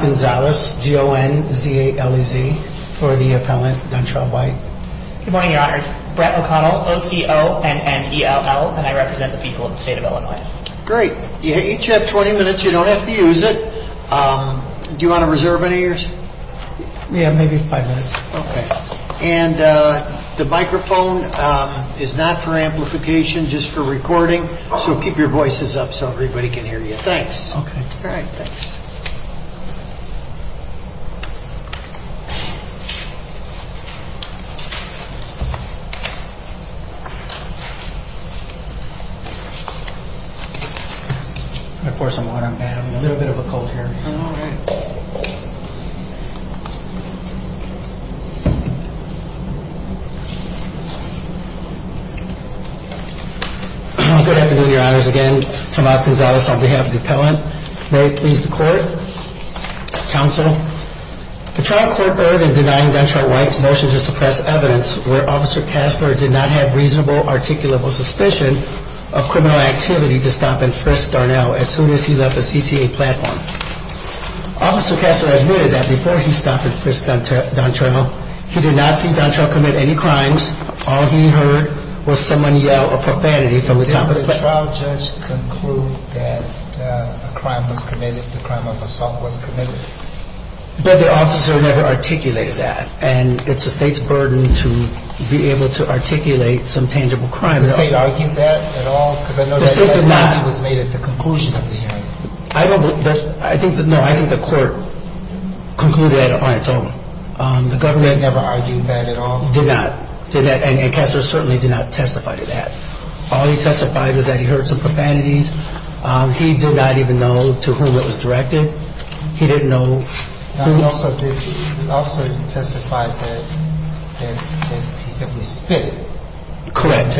Gonzalez, G-O-N-Z-A-L-E-Z, for the appellant, D'Entrelle-White. Good morning, Your Honors. Brett O'Connell, O-C-O-N-N-E-L-L, and I represent the people of the state of Illinois. Great. You each have 20 minutes. You don't have to use it. Do you want to reserve any of yours? Yeah, maybe five minutes. Okay. And the microphone is not for amplification, just for recording, so keep your voices up so everybody can hear Good afternoon, Your Honors. Again, Tomás González on behalf of the appellant. May it please the Court, Counsel. The trial court heard in denying D'Entrelle-White's motion to suppress evidence where Officer Kasler did not have reasonable articulable suspicion of criminal activity to stop and frisk D'Entrelle as soon as he left the CTA platform. Officer Kasler admitted that before he stopped and frisked D'Entrelle, he did not see D'Entrelle commit any crimes. All he heard was someone yell a profanity from the top of the platform. Did the trial judge conclude that a crime was committed, the crime of assault was committed? But the officer never articulated that, and it's the state's I think the court concluded that on its own. The government never argued that at all? Did not. And Kasler certainly did not testify to that. All he testified was that he heard some profanities. He did not even know to whom it was directed. He didn't know who Also, did the officer testify that he simply spit it? Correct.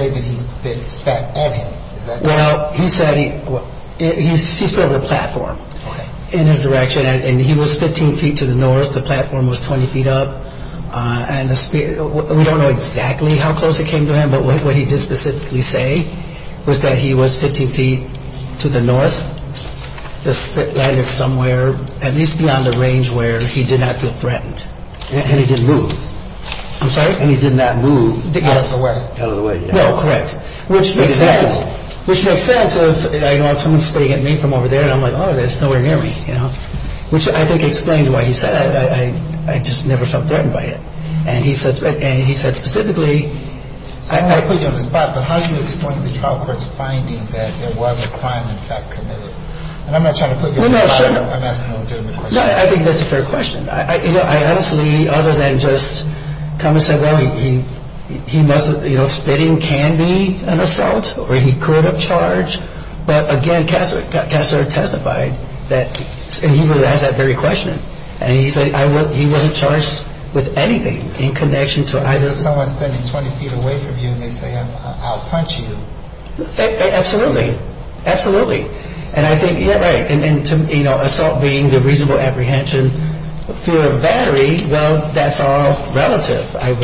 Well, he said he, he spit over the platform in his direction, and he was 15 feet to the north. The platform was 20 feet up. And we don't know exactly how close it came to him, but what he did specifically say was that he was 15 feet to the north. The spit landed somewhere at least beyond the range where he did not feel threatened. And he didn't move? I'm sorry? And he did not move out of the way? Out of the way, yeah. No, correct. Which makes sense. Which makes sense of, you know, if someone's spitting at me from over there, I'm like, oh, that's nowhere near me, you know. Which I think explains why he said that. I just never felt threatened by it. And he said specifically So I don't want to put you on the spot, but how do you explain the trial court's finding that there was a crime in fact committed? And I'm not trying to put you on the spot. I'm not asking a legitimate question. No, I think that's a fair question. I honestly, other than just come and say, well, he must have, you know, spitting can be an assault, or he could have charged. But again, Kassar testified that, and he really has that very question. And he said he wasn't charged with anything in connection to Because if someone's standing 20 feet away from you and they say, I'll punch you. Absolutely. Absolutely. And I think, yeah, right. And assault being the reasonable apprehension, fear of a battery, well, that's all relative. Like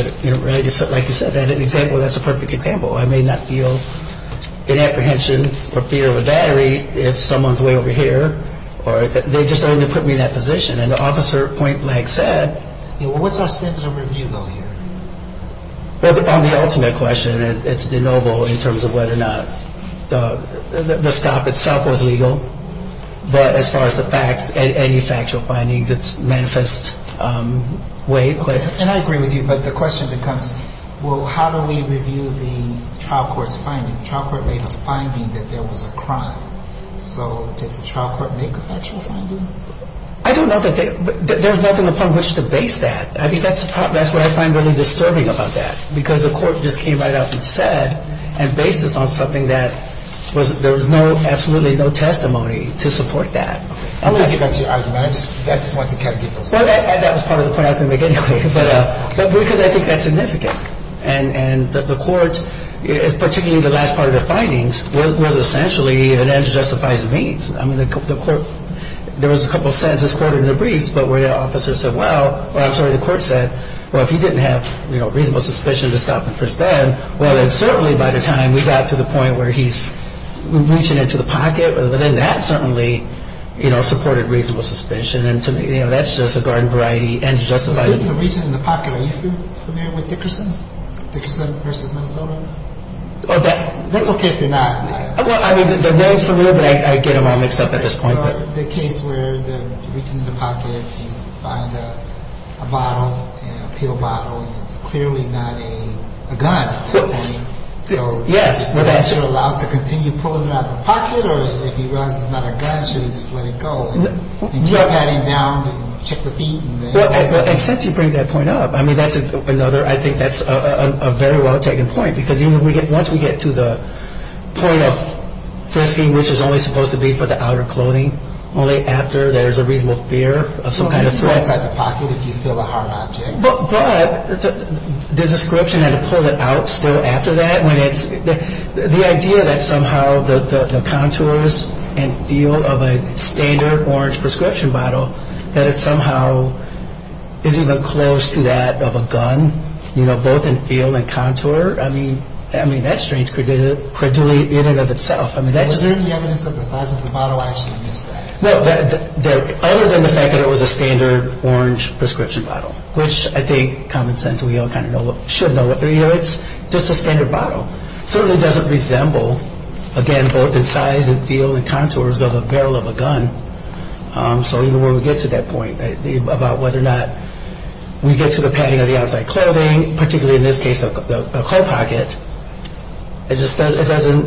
you said, that example, that's a perfect example. I may not feel an apprehension or fear of a battery if someone's way over here. They're just starting to put me in that position. And Officer Pointblank said, Well, you're going to do that. But the question is what's the point? Well, I think, again, it's a question of whether or not the stop itself was legal. But as far as the facts and any factual findings that manifest way, and I agree with you, but the question becomes, well, how do we review the trial court's finding? The trial court made the finding that there was a crime. So did the trial court make a factual finding? I think that's what I find really disturbing about that, because the court just came right out and said and based this on something that there was absolutely no testimony to support that. I'm going to get back to your argument. I just wanted to get those things. Well, that was part of the point I was going to make anyway, because I think that's significant. And the court, particularly the last part of the findings, was essentially an end justifies the means. I mean, the court, there was a couple sentences quoted in the briefs, but where the officer said, well, I'm sorry, the court said, well, if he didn't have reasonable suspicion to stop him first then, well, then certainly by the time we got to the point where he's reaching into the pocket, then that certainly supported reasonable suspicion. And to me, that's just a garden variety, end justifies the means. Speaking of reaching into the pocket, are you familiar with Dickerson versus Minnesota? That's okay if you're not. Well, I mean, the name's familiar, but I get them all mixed up at this point. The case where you're reaching into the pocket, you find a bottle, a pill bottle, and it's clearly not a gun at that point. Yes. So is the officer allowed to continue pulling it out of the pocket? Or if he realizes it's not a gun, should he just let it go and keep patting it down and check the feet? Well, and since you bring that point up, I mean, that's another, I think that's a very well taken point, because once we get to the point of frisking, which is only supposed to be for the outer clothing, only after there's a reasonable fear of some kind of threat. So he can pull it outside the pocket if you feel a hard object. But the description that he pulled it out still after that, when it's, the idea that somehow the contours and feel of a standard orange prescription bottle, that it somehow isn't even close to that of a gun, you know, both in feel and contour. I mean, that's strange, credulity in and of itself. Was there any evidence that the size of the bottle actually missed that? No, other than the fact that it was a standard orange prescription bottle, which I think common sense, we all kind of know, should know. You know, it's just a standard bottle. Certainly doesn't resemble, again, both in size and feel and contours of a barrel of a gun. So even when we get to that point about whether or not we get to the padding of the outside clothing, particularly in this case a cold pocket, it just doesn't,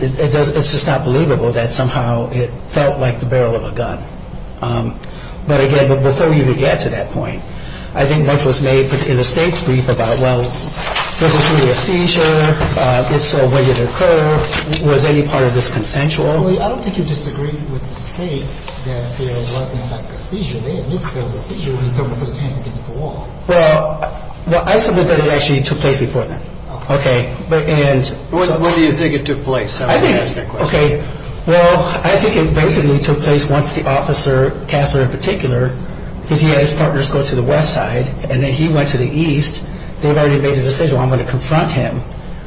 it's just not believable that somehow it felt like the barrel of a gun. But again, before we even get to that point, I think much was made in the state's brief about, well, was this really a seizure? It's a way to occur. Was any part of this consensual? I don't think you disagree with the state that there was in fact a seizure. They admit there was a seizure when he told them to put his hands against the wall. Well, I submit that it actually took place before then. Okay. When do you think it took place? I think, okay, well, I think it basically took place once the officer, Kasler in particular, because he had his partners go to the west side and then he went to the east. They've already made a decision, well, I'm going to confront him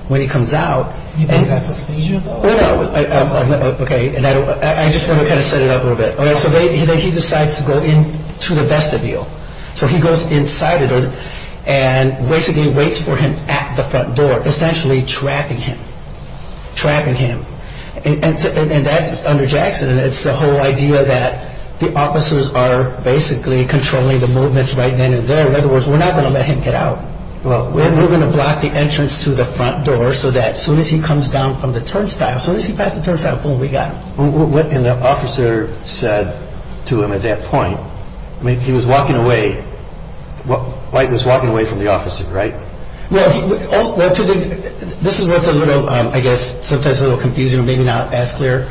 when he comes out. You think that's a seizure, though? Oh, no. Okay. I just want to kind of set it up a little bit. So he decides to go in to the vestibule. So he goes inside of those and basically waits for him at the front door, essentially trapping him, trapping him. And that's under Jackson. It's the whole idea that the officers are basically controlling the movements right then and there. In other words, we're not going to let him get out. Well, we're going to block the entrance to the front door so that as soon as he comes down from the turnstile, as soon as he passes the turnstile, boom, we got him. And the officer said to him at that point, I mean, he was walking away. White was walking away from the officer, right? Well, this is what's a little, I guess, sometimes a little confusing or maybe not as clear.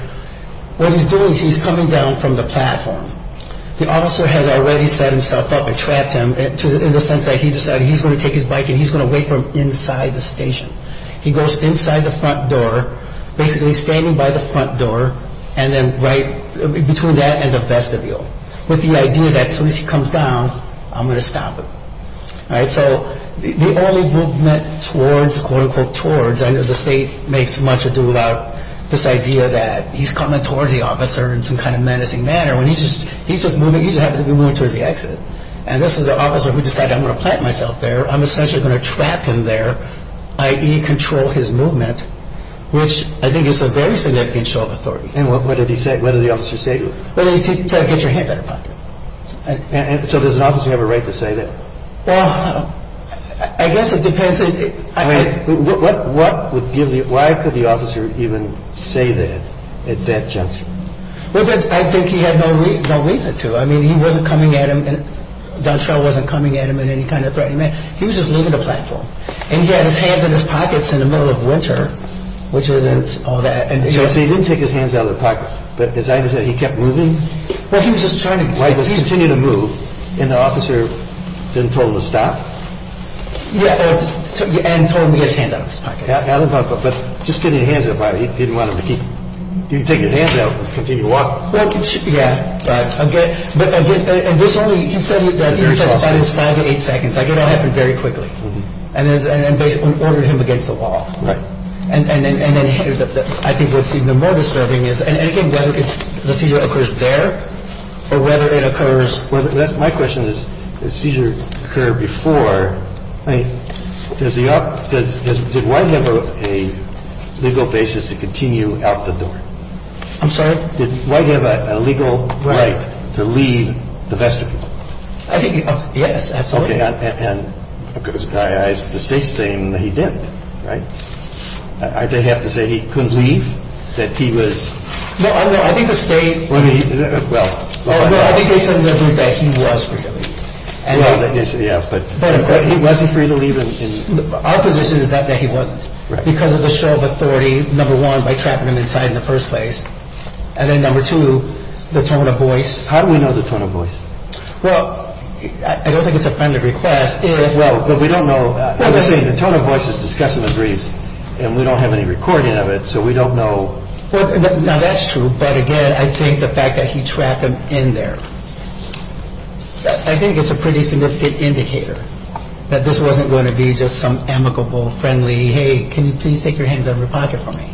What he's doing is he's coming down from the platform. The officer has already set himself up and trapped him in the sense that he decided he's going to take his bike and he's going to wait for him inside the station. He goes inside the front door, basically standing by the front door, and then right between that and the vestibule with the idea that as soon as he comes down, I'm going to stop him. All right, so the only movement towards, quote, unquote, towards, I know the state makes much ado about this idea that he's coming towards the officer in some kind of menacing manner when he's just moving, he just happens to be moving towards the exit. And this is an officer who decided I'm going to plant myself there. I'm essentially going to trap him there, i.e. control his movement, which I think is a very significant show of authority. And what did he say, what did the officer say to him? Well, he said, get your hands out of the pocket. And so does an officer have a right to say that? Well, I guess it depends. I mean, what would give the, why could the officer even say that at that juncture? Well, I think he had no reason to. I mean, he wasn't coming at him, and D'Entreau wasn't coming at him in any kind of threatening manner. He was just leaving the platform. And he had his hands in his pockets in the middle of winter, which isn't all that. So he didn't take his hands out of the pocket, but as I understand, he kept moving? Well, he was just turning. While he was continuing to move, and the officer then told him to stop? Yeah, and told him to get his hands out of his pockets. Well, I guess the officer was just trying to keep his hands out of his pockets. Yeah, but just getting his hands out, he didn't want him to keep. You take your hands out, continue walking? Yeah. All right. But he said he was just five to eight seconds. I get it all happened very quickly. And basically ordered him against the wall. Right. And then I think what's even more disturbing is, and I think whether the seizure occurs there or whether it occurs... Well, my question is, the seizure occurred before. I mean, did White have a legal basis to continue out the door? I'm sorry? Did White have a legal right to leave the vestibule? I think, yes, absolutely. Okay, and the State's saying that he didn't, right? I have to say he couldn't leave, that he was... No, I think the State... Well... No, I think they said in their group that he was free to leave. Well, yeah, but he wasn't free to leave in... Our position is that he wasn't. Right. Because of the show of authority, number one, by trapping him inside in the first place. And then number two, the tone of voice. How do we know the tone of voice? Well, I don't think it's a friendly request if... Well, but we don't know... The tone of voice is discussed in the briefs, and we don't have any recording of it, so we don't know... Now, that's true, but again, I think the fact that he trapped him in there, I think it's a pretty significant indicator that this wasn't going to be just some amicable, friendly, hey, can you please take your hands out of your pocket for me?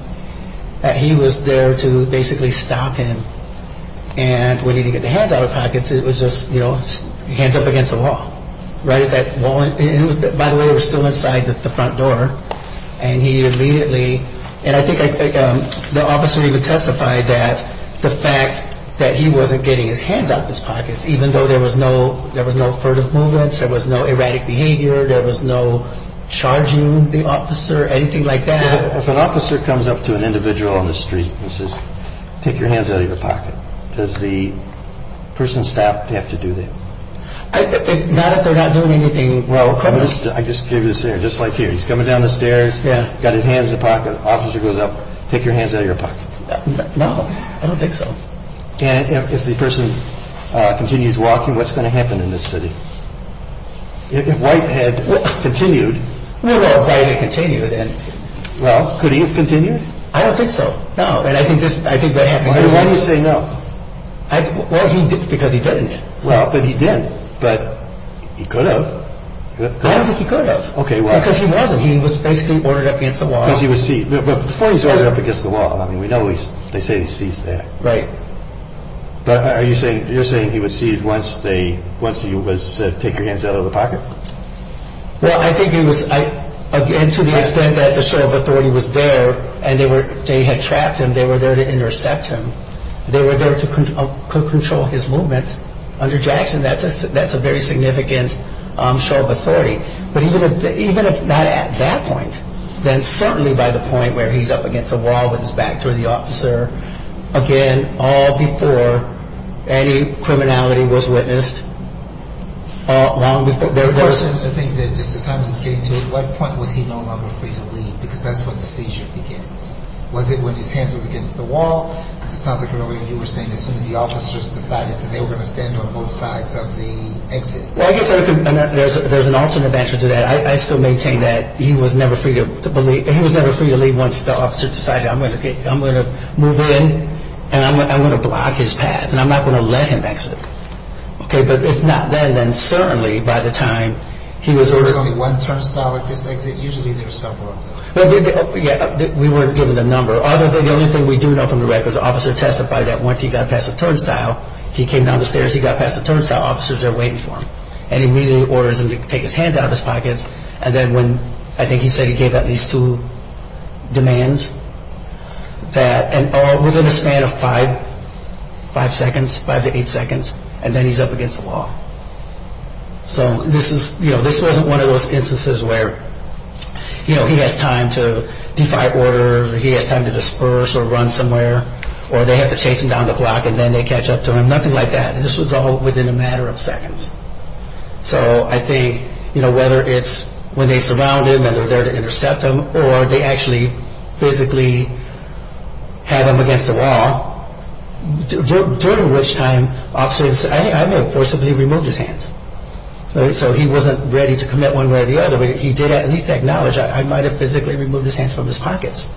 That he was there to basically stop him. And when he didn't get the hands out of his pockets, it was just, you know, hands up against the wall. Right at that wall... By the way, it was still inside the front door. And he immediately... And I think the officer even testified that the fact that he wasn't getting his hands out of his pockets, even though there was no furtive movements, there was no erratic behavior, there was no charging the officer, anything like that... If an officer comes up to an individual on the street and says, take your hands out of your pocket, does the person stopped have to do that? Not if they're not doing anything... Well, I just gave you a scenario, just like here. He's coming down the stairs, got his hands in the pocket, officer goes up, take your hands out of your pocket. No, I don't think so. And if the person continues walking, what's going to happen in this city? If White had continued... Well, could he have continued? I don't think so, no. And I think that happened. Why do you say no? Well, because he didn't. Well, but he did. But he could have. I don't think he could have. Okay, why? Because he wasn't. He was basically ordered up against the wall. Because he was seated. But before he's ordered up against the wall, I mean, we know they say he sees that. Right. But you're saying he was seated once he was said, take your hands out of the pocket? Well, I think he was... And to the extent that the show of authority was there, and they had trapped him, they were there to intercept him. They were there to control his movements under Jackson. That's a very significant show of authority. But even if not at that point, then certainly by the point where he's up against the wall with his back to the officer, again, all before any criminality was witnessed, long before... The question, I think, that Justice Simons is getting to, at what point was he no longer free to leave? Because that's when the seizure begins. Was it when his hands was against the wall? Because it sounds like earlier you were saying as soon as the officers decided that they were going to stand on both sides of the exit. Well, I guess there's an alternate answer to that. I still maintain that he was never free to leave. And once the officer decided, I'm going to move in, and I'm going to block his path, and I'm not going to let him exit. But if not then, then certainly by the time he was... There was only one turnstile at this exit? Usually there's several of them. We weren't given a number. The only thing we do know from the records, the officer testified that once he got past the turnstile, he came down the stairs, he got past the turnstile, officers are waiting for him. And he immediately orders them to take his hands out of his pockets. And then when, I think he said he gave at least two demands. Within a span of five seconds, five to eight seconds, and then he's up against the wall. So this wasn't one of those instances where he has time to defy order, he has time to disperse or run somewhere, or they have to chase him down the block and then they catch up to him. Nothing like that. This was all within a matter of seconds. So I think, you know, whether it's when they surround him and they're there to intercept him or they actually physically had him against the wall, during which time officers... I mean, of course, somebody removed his hands. So he wasn't ready to commit one way or the other. He did at least acknowledge, I might have physically removed his hands from his pockets.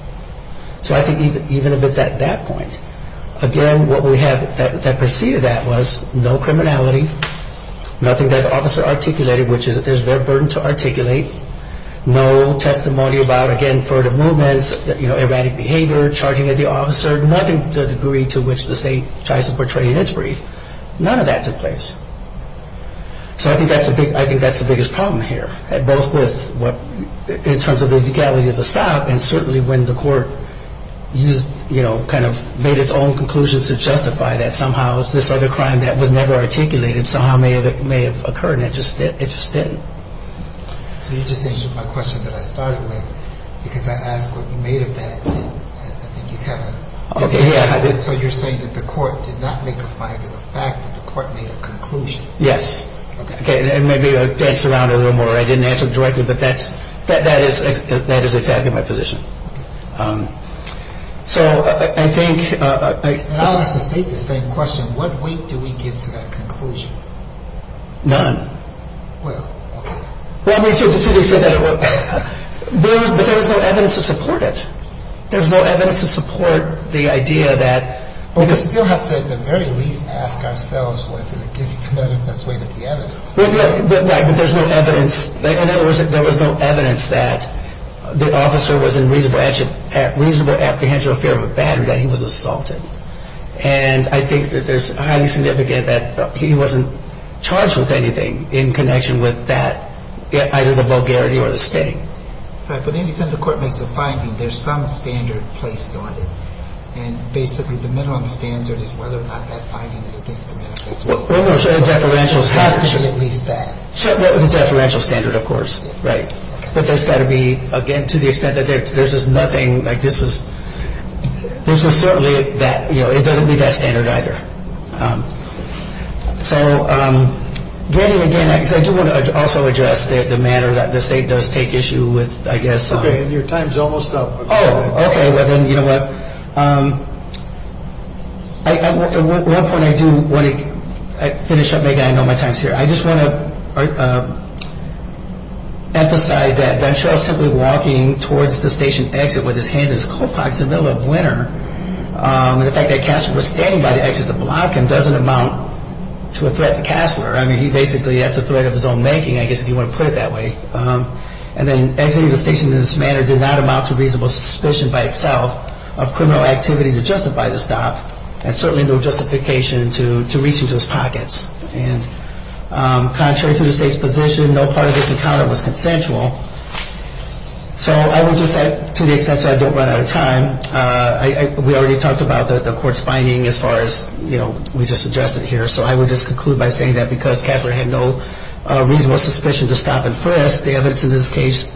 So I think even if it's at that point, again, what we have that preceded that was no criminality, nothing that an officer articulated, which is their burden to articulate, no testimony about, again, furtive movements, erratic behavior, charging at the officer, nothing to the degree to which the state tries to portray in its brief. None of that took place. So I think that's the biggest problem here, both with what, in terms of the legality of the stop, and certainly when the court used, you know, kind of made its own conclusions to justify that somehow this other crime that was never articulated somehow may have occurred, and it just didn't. So you just answered my question that I started with, because I asked what you made of that, and I think you kind of... Okay, yeah. So you're saying that the court did not make a finding, the fact that the court made a conclusion. Yes. Okay. And maybe I danced around it a little more. I didn't answer it directly, but that is exactly my position. So I think... And I'll just state the same question. What weight do we give to that conclusion? None. Well, okay. Well, me too. The two of you said that it was... But there was no evidence to support it. There was no evidence to support the idea that... Well, we still have to, at the very least, ask ourselves, was it against the best weight of the evidence? Right, but there's no evidence. In other words, there was no evidence that the officer was in reasonable apprehension or fear of a battery, that he was assaulted. And I think that there's highly significant that he wasn't charged with anything in connection with that, either the vulgarity or the spitting. Right, but any time the court makes a finding, there's some standard placed on it. And basically, the minimum standard is whether or not that finding is against the manifesto. Well, no, so the deferential standard... At least that. The deferential standard, of course, right. But there's got to be, again, to the extent that there's just nothing, like this was certainly that, you know, it doesn't meet that standard, either. So getting, again, I do want to also address the manner that the state does take issue with, I guess... Okay, and your time's almost up. Oh, okay, well then, you know what, at one point I do want to finish up. Maybe I know my time's here. I just want to emphasize that Duntrell simply walking towards the station exit with his hands in his coat pockets in the middle of winter, and the fact that Cassler was standing by the exit to block him doesn't amount to a threat to Cassler. I mean, he basically, that's a threat of his own making, I guess, if you want to put it that way. And then exiting the station in this manner did not amount to reasonable suspicion by itself of criminal activity to justify the stop And contrary to the state's position, no part of this encounter was consensual. So I would just say, to the extent so I don't run out of time, we already talked about the court's finding as far as, you know, we just addressed it here. So I would just conclude by saying that because Cassler had no reasonable suspicion to stop and frisk, the evidence in this case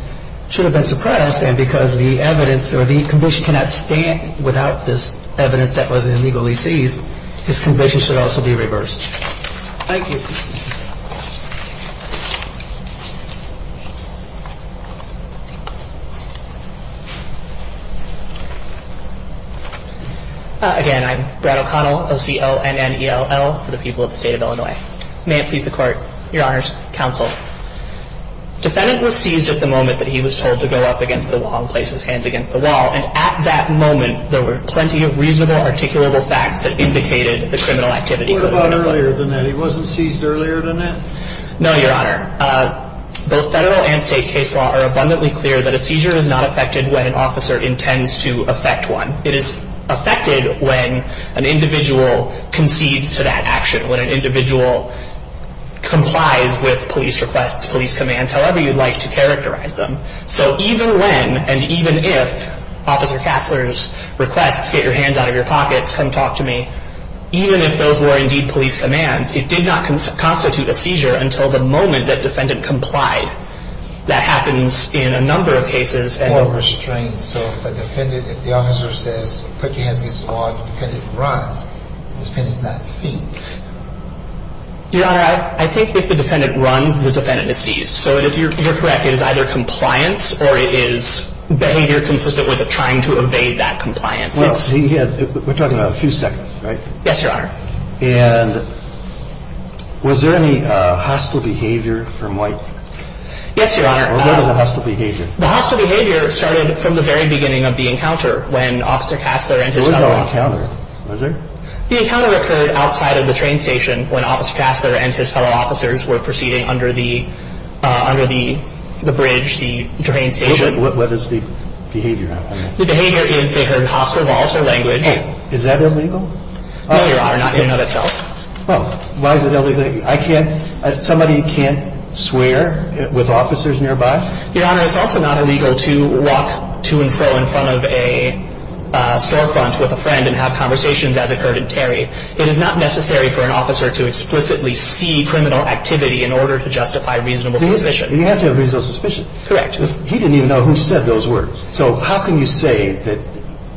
should have been suppressed. And because the evidence or the conviction cannot stand without this evidence that was illegally seized, his conviction should also be reversed. Thank you. Again, I'm Brad O'Connell, O-C-O-N-N-E-L-L, for the people of the State of Illinois. May it please the Court, Your Honors, Counsel. Defendant was seized at the moment that he was told to go up against the wall and place his hands against the wall. And at that moment, there were plenty of reasonable, articulable facts that indicated the criminal activity. What about earlier than that? He wasn't seized earlier than that? No, Your Honor. Both federal and state case law are abundantly clear that a seizure is not affected when an officer intends to affect one. It is affected when an individual concedes to that action, when an individual complies with police requests, police commands, however you'd like to characterize them. So even when and even if Officer Kasler's requests, get your hands out of your pockets, come talk to me, even if those were indeed police commands, it did not constitute a seizure until the moment that defendant complied. That happens in a number of cases. More restraints. So if a defendant, if the officer says, put your hands against the wall, the defendant runs, the defendant's not seized. Your Honor, I think if the defendant runs, the defendant is seized. So you're correct. It is either compliance or it is behavior consistent with trying to evade that compliance. Well, we're talking about a few seconds, right? Yes, Your Honor. And was there any hostile behavior from White? Yes, Your Honor. What was the hostile behavior? The hostile behavior started from the very beginning of the encounter when Officer Kasler and his fellow officers. There was no encounter, was there? The encounter occurred outside of the train station when Officer Kasler and his fellow officers were proceeding under the bridge, the train station. What is the behavior? The behavior is they heard hostile, volatile language. Oh, is that illegal? No, Your Honor, not in and of itself. Oh, why is it illegal? I can't, somebody can't swear with officers nearby? Your Honor, it's also not illegal to walk to and fro in front of a storefront with a friend and have conversations as occurred in Terry. It is not necessary for an officer to explicitly see criminal activity in order to justify reasonable suspicion. You have to have reasonable suspicion. Correct. He didn't even know who said those words. So how can you say that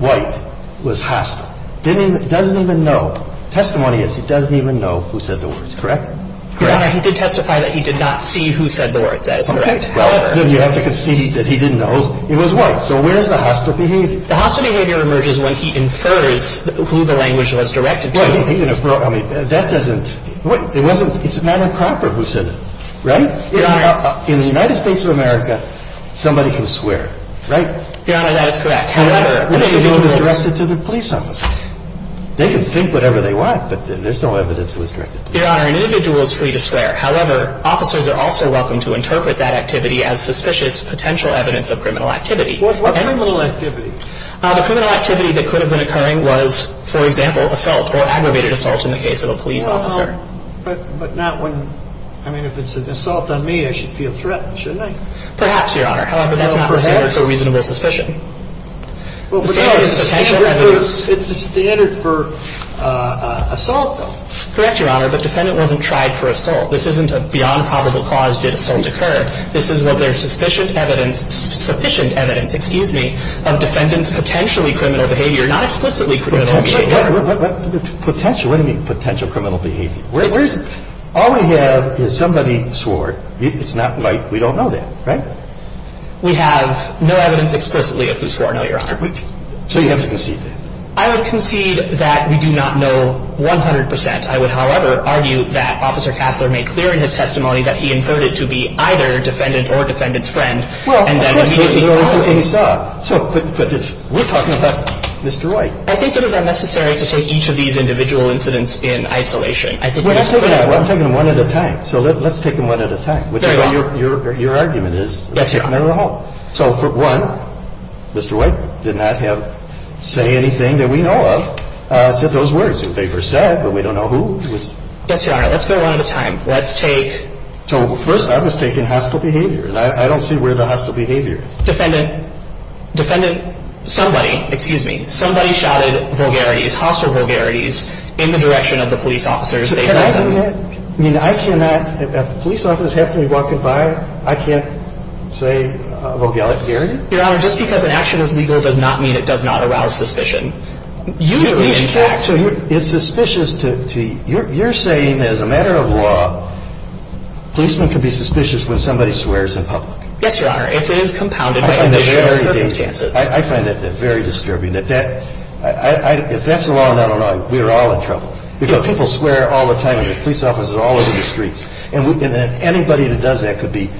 White was hostile? Doesn't even know. Testimony is he doesn't even know who said the words, correct? Correct. Your Honor, he did testify that he did not see who said the words. That is correct. Well, then you have to concede that he didn't know it was White. So where is the hostile behavior? The hostile behavior emerges when he infers who the language was directed to. Well, he inferred, I mean, that doesn't, it wasn't, it's Madame Crawford who said it, right? Your Honor. In the United States of America, somebody can swear, right? Your Honor, that is correct. However, an individual is directed to the police officer. They can think whatever they want, but there's no evidence it was directed to them. Your Honor, an individual is free to swear. However, officers are also welcome to interpret that activity as suspicious potential evidence of criminal activity. What criminal activity? The criminal activity that could have been occurring was, for example, assault or aggravated assault in the case of a police officer. But not when, I mean, if it's an assault on me, I should feel threatened, shouldn't I? Perhaps, Your Honor. However, that's not the standard for reasonable suspicion. It's the standard for assault, though. Correct, Your Honor, but defendant wasn't tried for assault. This isn't a beyond probable cause did assault occur. This is was there sufficient evidence, sufficient evidence, excuse me, of defendant's potentially criminal behavior, not explicitly criminal behavior. Potentially, what do you mean potential criminal behavior? All we have is somebody swore. It's not like we don't know that, right? We have no evidence explicitly of who swore, no, Your Honor. So you have to concede that. I would concede that we do not know 100%. I would, however, argue that Officer Kassler made clear in his testimony that he inferred it to be either defendant or defendant's friend. Well, of course. And then immediately following. And you saw. So we're talking about Mr. White. I think it is unnecessary to take each of these individual incidents in isolation. We're not taking them. I'm taking them one at a time. So let's take them one at a time. Very well. Your argument is. Yes, Your Honor. So for one, Mr. White did not say anything that we know of. Said those words that they first said, but we don't know who. Yes, Your Honor. Let's go one at a time. Let's take. So first I'm just taking hostile behavior. I don't see where the hostile behavior is. Defendant. Defendant. Somebody. Excuse me. Somebody shouted vulgarities, hostile vulgarities, in the direction of the police officers. Can I do that? I mean, I cannot. If the police officer is happily walking by, I can't say vulgarity? Your Honor, just because an action is legal does not mean it does not arouse suspicion. Usually, in fact. So it's suspicious to... You're saying as a matter of law, policemen can be suspicious when somebody swears in public. Yes, Your Honor. If it is compounded by additional circumstances. If that's the law in Illinois, we are all in trouble. Because people swear all the time, and the police officers are all over the streets. And anybody that does that could be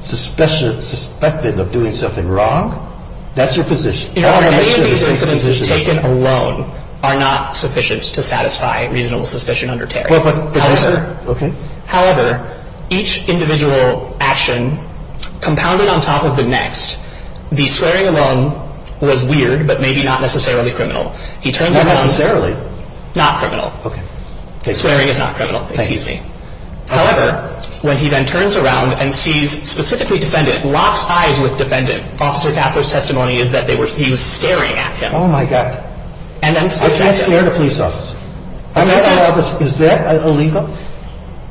suspected of doing something wrong? That's your position. Your Honor, any of these incidences taken alone are not sufficient to satisfy reasonable suspicion under Terry. Well, but... However... Okay. However, each individual action compounded on top of the next, the swearing alone was weird, but maybe not necessarily criminal. He turns around... Not necessarily. Not criminal. Okay. Swearing is not criminal. Excuse me. However, when he then turns around and sees specifically defendant, locks eyes with defendant, Officer Gassler's testimony is that they were... He was staring at him. Oh, my God. And then... I can't stare at a police officer. I'm not a police officer. Is that illegal?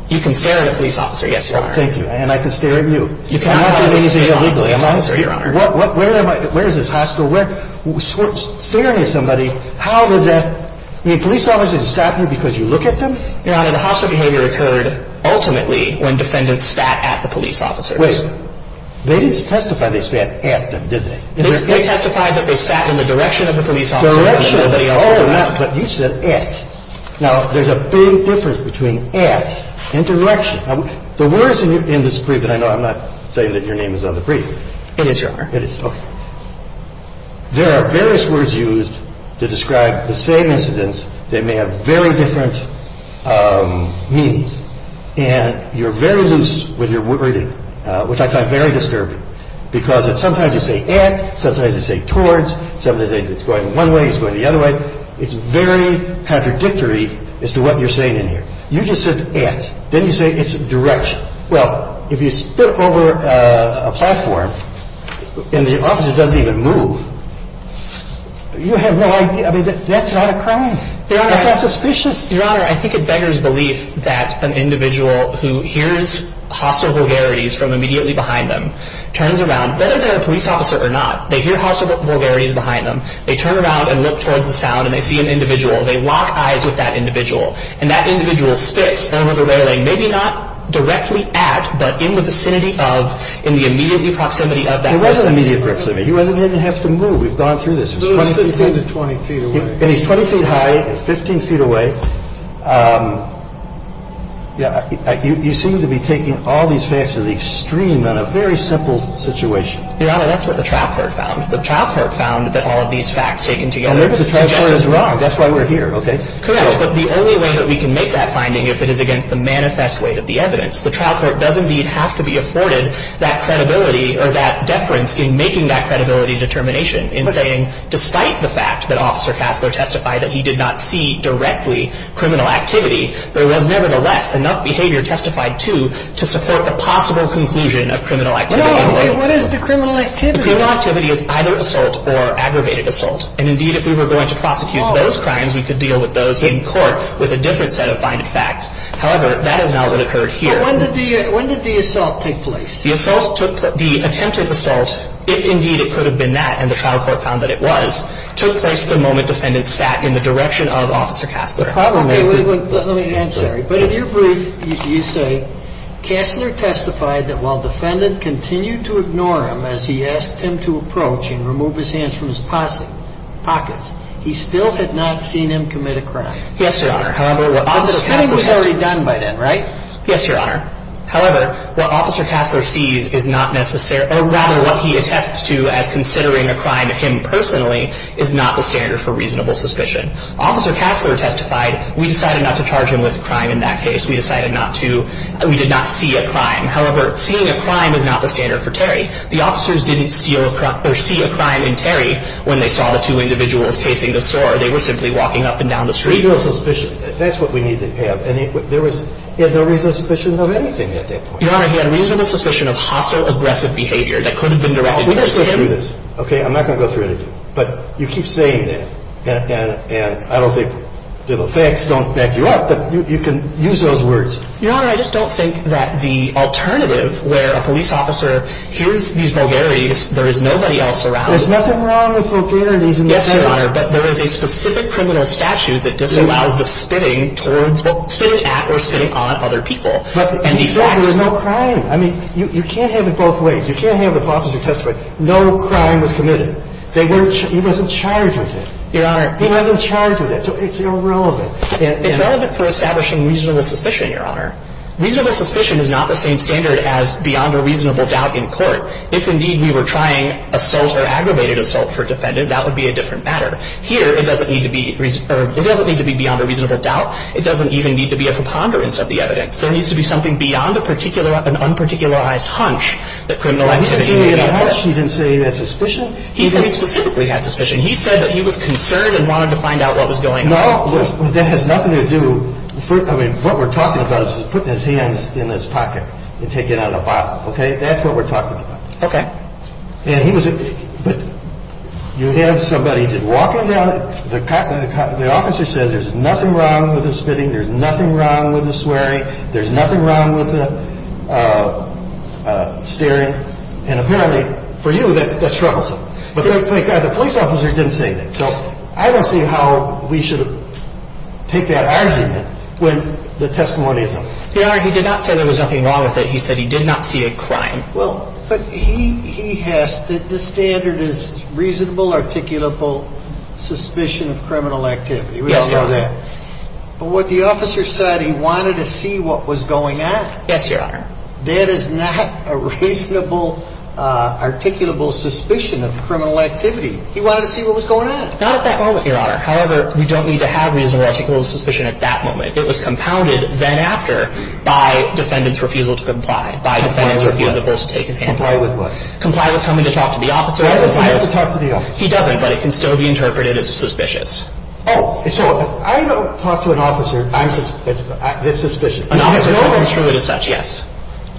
You can stare at a police officer, yes, Your Honor. Oh, thank you. And I can stare at you. You cannot stare at a police officer, Your Honor. Where is this hostile? Staring at somebody... How is that... You need police officers to stop you because you look at them? Your Honor, the hostile behavior occurred ultimately when defendants sat at the police officers. Wait. They didn't testify they sat at them, did they? They testified that they sat in the direction of the police officers. Direction. Oh, yeah. But you said at. Now, there's a big difference between at and direction. The words in this brief that I know I'm not saying that your name is on the brief. It is, Your Honor. It is. Okay. There are various words used to describe the same incidents that may have very different meanings. And you're very loose with your wording, which I find very disturbing because sometimes you say at, sometimes you say towards, sometimes it's going one way, it's going the other way. It's very contradictory as to what you're saying in here. You just said at. Then you say it's direction. Well, if you spit over a platform and the officer doesn't even move, you have no idea. I mean, that's not a crime. That's not suspicious. Your Honor, I think it beggars belief that an individual who hears hostile vulgarities from immediately behind them turns around, whether they're a police officer or not, they hear hostile vulgarities behind them, they turn around and look towards the sound and they see an individual, they lock eyes with that individual, and that individual spits over the railing, maybe not directly at, but in the vicinity of, in the immediate proximity of that person. It wasn't immediate proximity. He didn't even have to move. We've gone through this. It was 15 to 20 feet away. And he's 20 feet high, 15 feet away. You seem to be taking all these facts to the extreme on a very simple situation. Your Honor, that's what the trial court found. The trial court found that all of these facts taken together suggested wrong. That's why we're here, okay? Correct. But the only way that we can make that finding if it is against the manifest weight of the evidence, the trial court does indeed have to be afforded that credibility or that deference in making that credibility determination in saying despite the fact that Officer Casler testified that he did not see directly criminal activity, there was nevertheless enough behavior testified to to support the possible conclusion of criminal activity. No, what is the criminal activity? The criminal activity is either assault or aggravated assault. And indeed, if we were going to prosecute those crimes, we could deal with those in court with a different set of finding facts. However, that is now what occurred here. But when did the assault take place? The assault took the attempted assault, if indeed it could have been that, and the trial court found that it was, took place the moment defendant sat in the direction of Officer Casler. Okay. I'm sorry. But in your brief, you say Casler testified that while defendant continued to ignore him as he asked him to approach and remove his hands from his pockets, he still had not seen him commit a crime. Yes, Your Honor. However, what Officer Casler sees is not necessarily, or rather what he attests to as considering a crime to him personally, is not the standard for reasonable suspicion. Officer Casler testified we decided not to charge him with a crime in that case. We decided not to, we did not see a crime. However, seeing a crime is not the standard for Terry. The officers didn't see a crime in Terry when they saw the two individuals facing the store. They were simply walking up and down the street. Reasonable suspicion. That's what we need to have. There was no reasonable suspicion of anything at that point. Your Honor, he had reasonable suspicion of hostile, aggressive behavior that could have been directed towards him. I'm not going to go through this. Okay? I'm not going to go through anything. But you keep saying that, and I don't think the facts don't back you up, but you can use those words. Your Honor, I just don't think that the alternative where a police officer hears these vulgarities, there is nobody else around. There's nothing wrong with vulgarities in this case. Yes, Your Honor, but there is a specific criminal statute that disallows the spitting towards, well, spitting at or spitting on other people. But he said there was no crime. I mean, you can't have it both ways. You can't have the officer testify no crime was committed. They weren't, he wasn't charged with it. Your Honor. He wasn't charged with it. So it's irrelevant. It's relevant for establishing reasonable suspicion, Your Honor. Reasonable suspicion is not the same standard as beyond a reasonable doubt in court. If, indeed, we were trying assault or aggravated assault for a defendant, that would be a different matter. Here, it doesn't need to be beyond a reasonable doubt. It doesn't even need to be a preponderance of the evidence. There needs to be something beyond a particular, an unparticularized hunch that criminal activity may have occurred. He didn't say a hunch. He didn't say he had suspicion. He said he specifically had suspicion. He said that he was concerned and wanted to find out what was going on. Now, that has nothing to do, I mean, what we're talking about is putting his hands in his pocket and taking out a file. Okay? That's what we're talking about. Okay. And he was, but you have somebody walking down, the officer says there's nothing wrong with the spitting. There's nothing wrong with the swearing. There's nothing wrong with the staring. And apparently, for you, that's troublesome. But thank God the police officer didn't say that. So I don't see how we should take that argument when the testimony isn't. Your Honor, he did not say there was nothing wrong with it. He said he did not see a crime. Well, but he has, the standard is reasonable, articulable suspicion of criminal activity. Yes, Your Honor. We all know that. But what the officer said, he wanted to see what was going on. Yes, Your Honor. That is not a reasonable, articulable suspicion of criminal activity. He wanted to see what was going on. Not at that moment, Your Honor. However, we don't need to have reasonable, articulable suspicion at that moment. It was compounded then after by defendant's refusal to comply. Comply with what? By defendant's refusal to take his hands off. Comply with what? Comply with coming to talk to the officer. I decided to talk to the officer. He doesn't, but it can still be interpreted as suspicious. Oh. So if I don't talk to an officer, it's suspicious. An officer can't construe it as such, yes.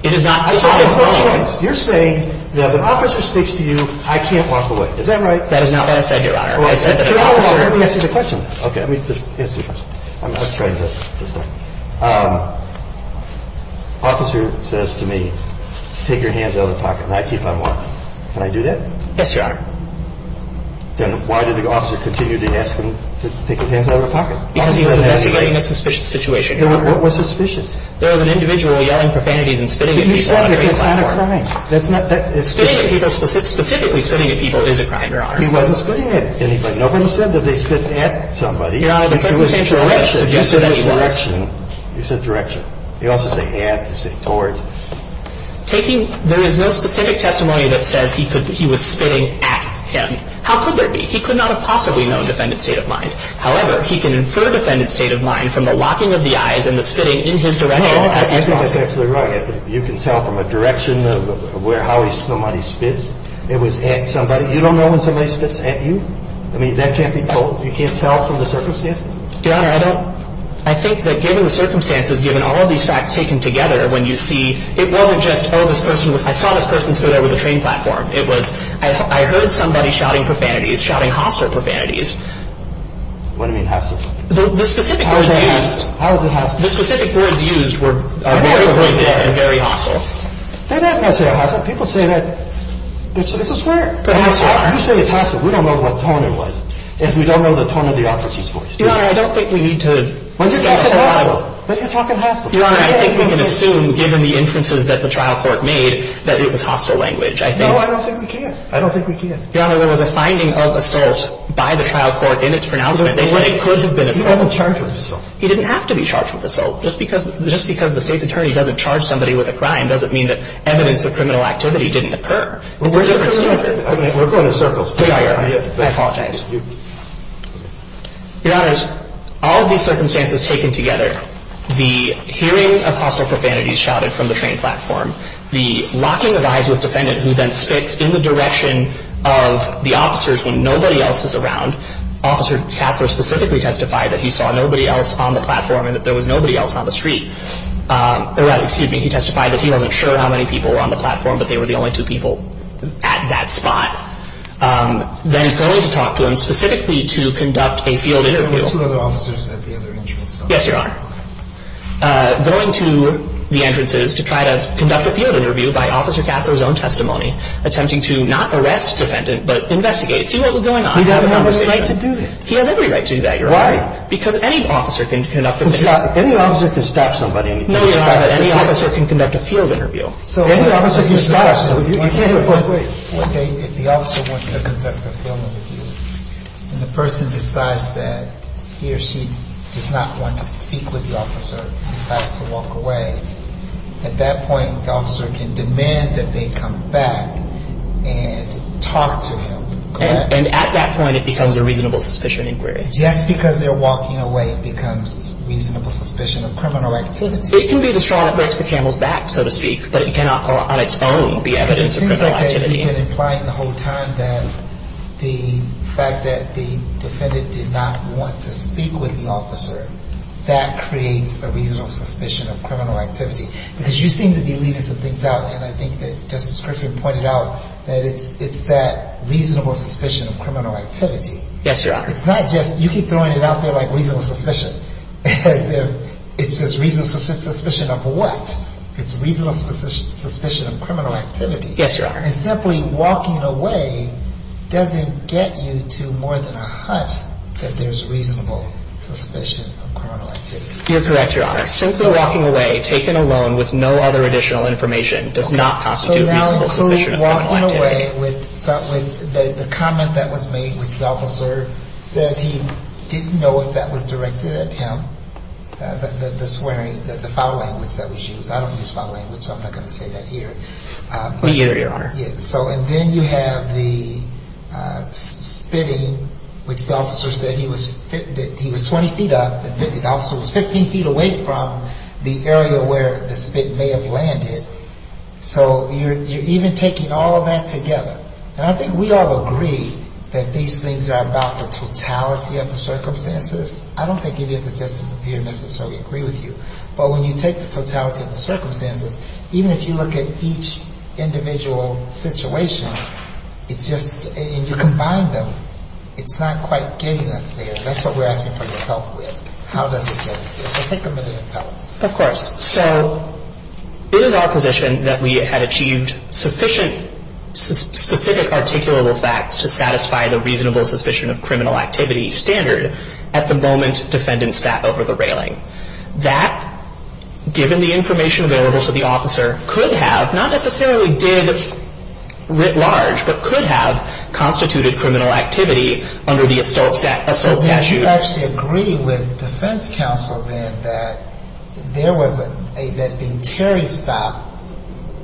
It is not. I'm talking about choice. You're saying that if an officer speaks to you, I can't walk away. Is that right? That is not what I said, Your Honor. I said that an officer. Let me ask you a question. Okay. Let me ask you a question. Let's try this. This way. Officer says to me, take your hands out of the pocket and I keep on walking. Can I do that? Yes, Your Honor. Then why did the officer continue to ask him to take his hands out of the pocket? Because he was investigating a suspicious situation. What was suspicious? There was an individual yelling profanities and spitting at people. That's not a crime. That's not. Spitting at people, specifically spitting at people is a crime, Your Honor. He wasn't spitting at anybody. Nobody said that they spit at somebody. It was direction. You said direction. You said direction. You also say at. You say towards. Taking. There is no specific testimony that says he was spitting at him. How could there be? He could not have possibly known defendant's state of mind. However, he can infer defendant's state of mind from the locking of the eyes and the spitting in his direction as he's walking. That's absolutely right. You can tell from a direction of how somebody spits. It was at somebody. You don't know when somebody spits at you? I mean, that can't be told. You can't tell from the circumstances? Your Honor, I don't. I think that given the circumstances, given all of these facts taken together, when you see, it wasn't just, oh, this person was. I saw this person sit there with a train platform. It was, I heard somebody shouting profanities, shouting hostile profanities. What do you mean hostile? The specific words used. How was it hostile? The specific words used were very pointed and very hostile. They're not going to say hostile. People say that. It's a swear. You say it's hostile. We don't know what tone it was. If we don't know the tone of the officer's voice. Your Honor, I don't think we need to. But you're talking hostile. But you're talking hostile. Your Honor, I think we can assume, given the inferences that the trial court made, that it was hostile language. I think. No, I don't think we can. I don't think we can. Your Honor, there was a finding of assault by the trial court in its pronouncement. They said it could have been assault. He wasn't charged with assault. He didn't have to be charged with assault. Just because the state's attorney doesn't charge somebody with a crime doesn't mean that evidence of criminal activity didn't occur. We're going in circles. I apologize. Your Honor, all of these circumstances taken together, the hearing of hostile profanities shouted from the train platform, the locking of eyes with defendant who then spits in the direction of the officers when nobody else is around, Officer Kasler specifically testified that he saw nobody else on the platform and that there was nobody else on the street. Excuse me. He testified that he wasn't sure how many people were on the platform, but they were the only two people at that spot. Then going to talk to him specifically to conduct a field interview. There were two other officers at the other entrance. Yes, Your Honor. Going to the entrances to try to conduct a field interview by Officer Kasler's own testimony, attempting to not arrest the defendant but investigate it, see what was going on. He doesn't have any right to do that. He has every right to do that, Your Honor. Why? Because any officer can conduct a field interview. Any officer can stop somebody. No, Your Honor. Any officer can conduct a field interview. Any officer can stop somebody. If the officer wants to conduct a field interview and the person decides that he or she does not want to speak with the officer, decides to walk away, at that point the officer can demand that they come back and talk to him. And at that point it becomes a reasonable suspicion inquiry. Just because they're walking away becomes reasonable suspicion of criminal activity. It can be the straw that breaks the camel's back, so to speak, but it cannot on its own be evidence of criminal activity. But it seems like they've been implying the whole time that the fact that the defendant did not want to speak with the officer, that creates a reasonable suspicion of criminal activity. Because you seem to be leaving some things out, and I think that Justice Griffith pointed out that it's that reasonable suspicion of criminal activity. Yes, Your Honor. It's not just you keep throwing it out there like reasonable suspicion, as if it's just reasonable suspicion of what? It's reasonable suspicion of criminal activity. Yes, Your Honor. And simply walking away doesn't get you to more than a hut that there's reasonable suspicion of criminal activity. You're correct, Your Honor. Since the walking away, taken alone with no other additional information, does not constitute reasonable suspicion of criminal activity. So that includes walking away with the comment that was made, which the officer said he didn't know if that was directed at him, the swearing, the foul language that was used. I don't use foul language, so I'm not going to say that here. But here, Your Honor. And then you have the spitting, which the officer said he was 20 feet up. The officer was 15 feet away from the area where the spit may have landed. So you're even taking all of that together. And I think we all agree that these things are about the totality of the circumstances. I don't think any of the Justices here necessarily agree with you. But when you take the totality of the circumstances, even if you look at each individual situation, it just — and you combine them, it's not quite getting us there. That's what we're asking for your help with. How does it get us there? So take a minute and tell us. Of course. So it is our position that we had achieved sufficient specific articulable facts to satisfy the reasonable suspicion of criminal activity standard at the moment defendant sat over the railing. That, given the information available to the officer, could have, not necessarily did writ large, but could have constituted criminal activity under the ASTOL statute. So did you actually agree with defense counsel then that there was a — that the Terry stop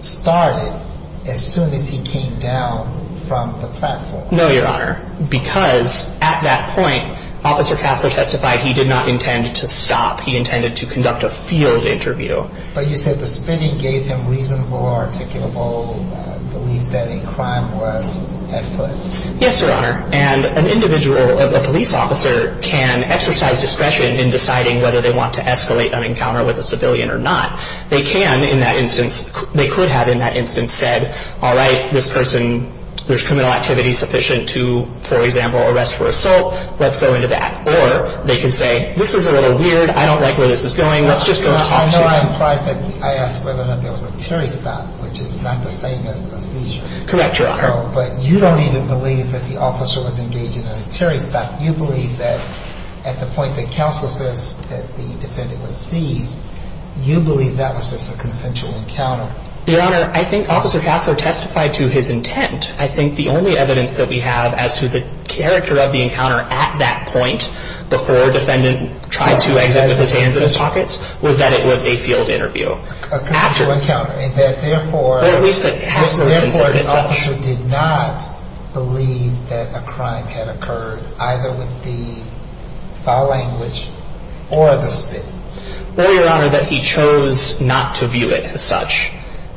started as soon as he came down from the platform? No, Your Honor. Because at that point, Officer Casler testified he did not intend to stop. He intended to conduct a field interview. But you said the spinning gave him reasonable articulable belief that a crime was at foot. Yes, Your Honor. And an individual, a police officer, can exercise discretion in deciding whether they want to escalate an encounter with a civilian or not. They can in that instance — they could have in that instance said, all right, this person, there's criminal activity sufficient to, for example, arrest for assault. Let's go into that. Or they could say, this is a little weird. I don't like where this is going. Let's just go talk to you. I know I implied that I asked whether or not there was a Terry stop, which is not the same as a seizure. Correct, Your Honor. So — but you don't even believe that the officer was engaged in a Terry stop. You believe that at the point that Casler says that the defendant was seized, you believe that was just a consensual encounter. Your Honor, I think Officer Casler testified to his intent. I think the only evidence that we have as to the character of the encounter at that point, before defendant tried to exit with his hands in his pockets, was that it was a field interview. A consensual encounter, and that therefore — Well, at least that Casler — Your Honor, the officer did not believe that a crime had occurred, either with the foul language or the spit. Well, Your Honor, that he chose not to view it as such.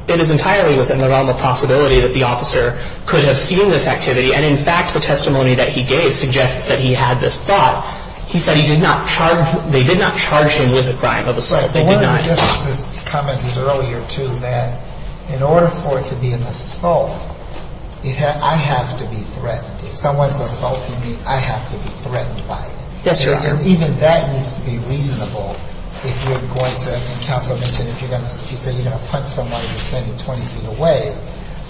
It is entirely within the realm of possibility that the officer could have seen this activity. And in fact, the testimony that he gave suggests that he had this thought. He said he did not charge — they did not charge him with a crime of assault. They did not. Your Honor, Justice has commented earlier, too, that in order for it to be an assault, I have to be threatened. If someone is assaulting me, I have to be threatened by them. Yes, Your Honor. And even that needs to be reasonable if you're going to — and Counsel mentioned if you're going to — if you say you're going to punch someone and you're standing 20 feet away,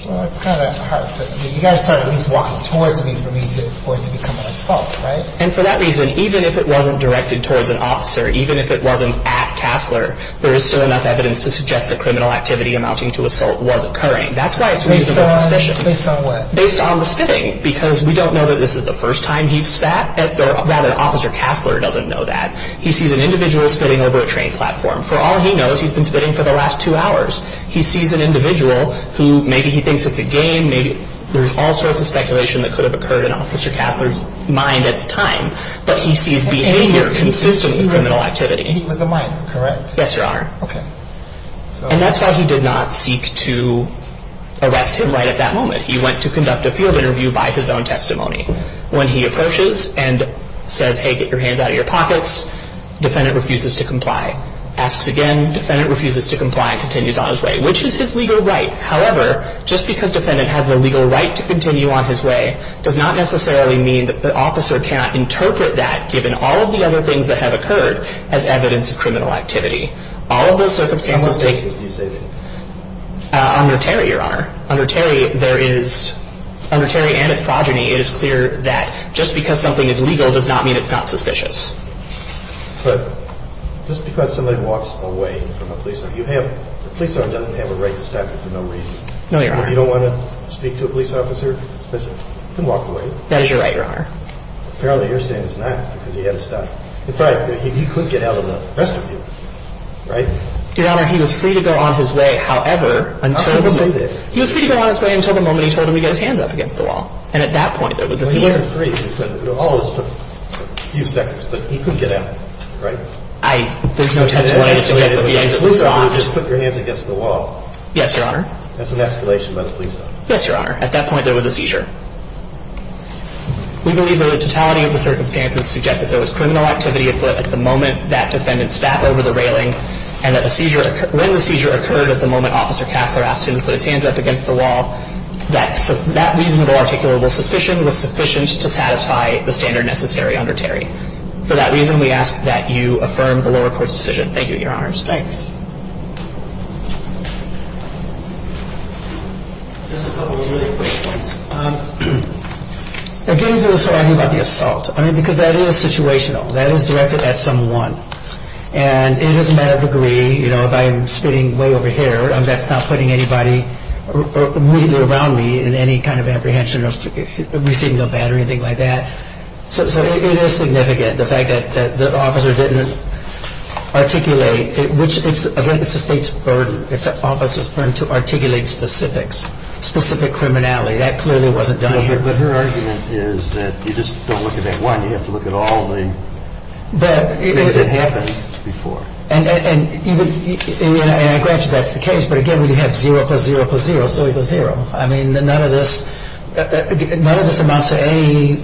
well, it's kind of hard to — I mean, you've got to start at least walking towards me for me to — for it to become an assault, right? And for that reason, even if it wasn't directed towards an officer, even if it wasn't at Kassler, there is still enough evidence to suggest that criminal activity amounting to assault was occurring. That's why it's reasonable suspicion. Based on what? Based on the spitting, because we don't know that this is the first time he's spat at — or rather, Officer Kassler doesn't know that. He sees an individual spitting over a train platform. For all he knows, he's been spitting for the last two hours. He sees an individual who — maybe he thinks it's a game. Maybe — there's all sorts of speculation that could have occurred in Officer Kassler's mind at the time. But he sees behavior consistent with criminal activity. He was a minor, correct? Yes, Your Honor. Okay. And that's why he did not seek to arrest him right at that moment. He went to conduct a field interview by his own testimony. When he approaches and says, hey, get your hands out of your pockets, defendant refuses to comply. Asks again. Defendant refuses to comply and continues on his way, which is his legal right. However, just because defendant has a legal right to continue on his way does not necessarily mean that the officer can't interpret that, given all of the other things that have occurred, as evidence of criminal activity. All of those circumstances take — How many cases do you say there are? Under Terry, Your Honor. Under Terry, there is — under Terry and its progeny, it is clear that just because something is legal does not mean it's not suspicious. But just because somebody walks away from a police officer — you have — a police officer doesn't have a right to stop you for no reason. No, Your Honor. If you don't want to speak to a police officer, you can walk away. That is your right, Your Honor. Apparently, you're saying it's not because he had to stop. In fact, he couldn't get out of the rest of you, right? Your Honor, he was free to go on his way. However, until the moment — How did he do that? He was free to go on his way until the moment he told him to get his hands up against the wall. And at that point, there was a — He wasn't free. All of this took a few seconds. But he couldn't get out, right? I — there's no testimony to suggest that the answer was stopped. Police officer, you just put your hands against the wall. Yes, Your Honor. That's an escalation by the police officer. Yes, Your Honor. At that point, there was a seizure. We believe that the totality of the circumstances suggest that there was criminal activity at foot at the moment that defendant stabbed over the railing and that a seizure — when the seizure occurred at the moment Officer Kassler asked him to put his hands up against the wall, that reasonable articulable suspicion was sufficient to satisfy the standard necessary under Terry. For that reason, we ask that you affirm the lower court's decision. Thank you, Your Honors. Thanks. Just a couple of really quick points. Again, this was talking about the assault. I mean, because that is situational. That is directed at someone. And it is a matter of degree. You know, if I'm sitting way over here, that's not putting anybody immediately around me in any kind of apprehension of receiving a bat or anything like that. So it is significant, the fact that the officer didn't articulate, which, again, it's the state's burden. It's the officer's burden to articulate specifics, specific criminality. That clearly wasn't done here. But her argument is that you just don't look at that one. You have to look at all the things that happened before. And, granted, that's the case. But, again, when you have zero plus zero plus zero still equals zero. I mean, none of this amounts to any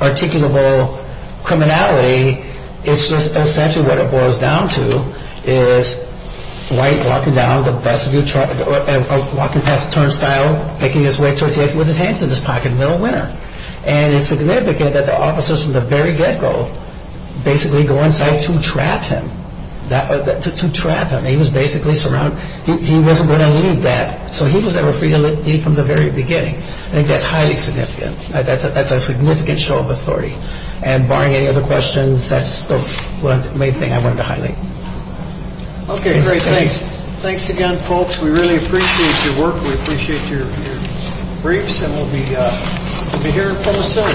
articulable criminality. It's just essentially what it boils down to is White walking down, walking past the turnstile, making his way towards the exit with his hands in his pocket, middle winner. And it's significant that the officers from the very get-go basically go inside to trap him, to trap him. He was basically surrounded. He wasn't going to leave that. So he was never free to leave from the very beginning. I think that's highly significant. That's a significant show of authority. And barring any other questions, that's the main thing I wanted to highlight. Okay, great. Thanks. Thanks again, folks. We really appreciate your work. We appreciate your briefs. And we'll be here from a certain point.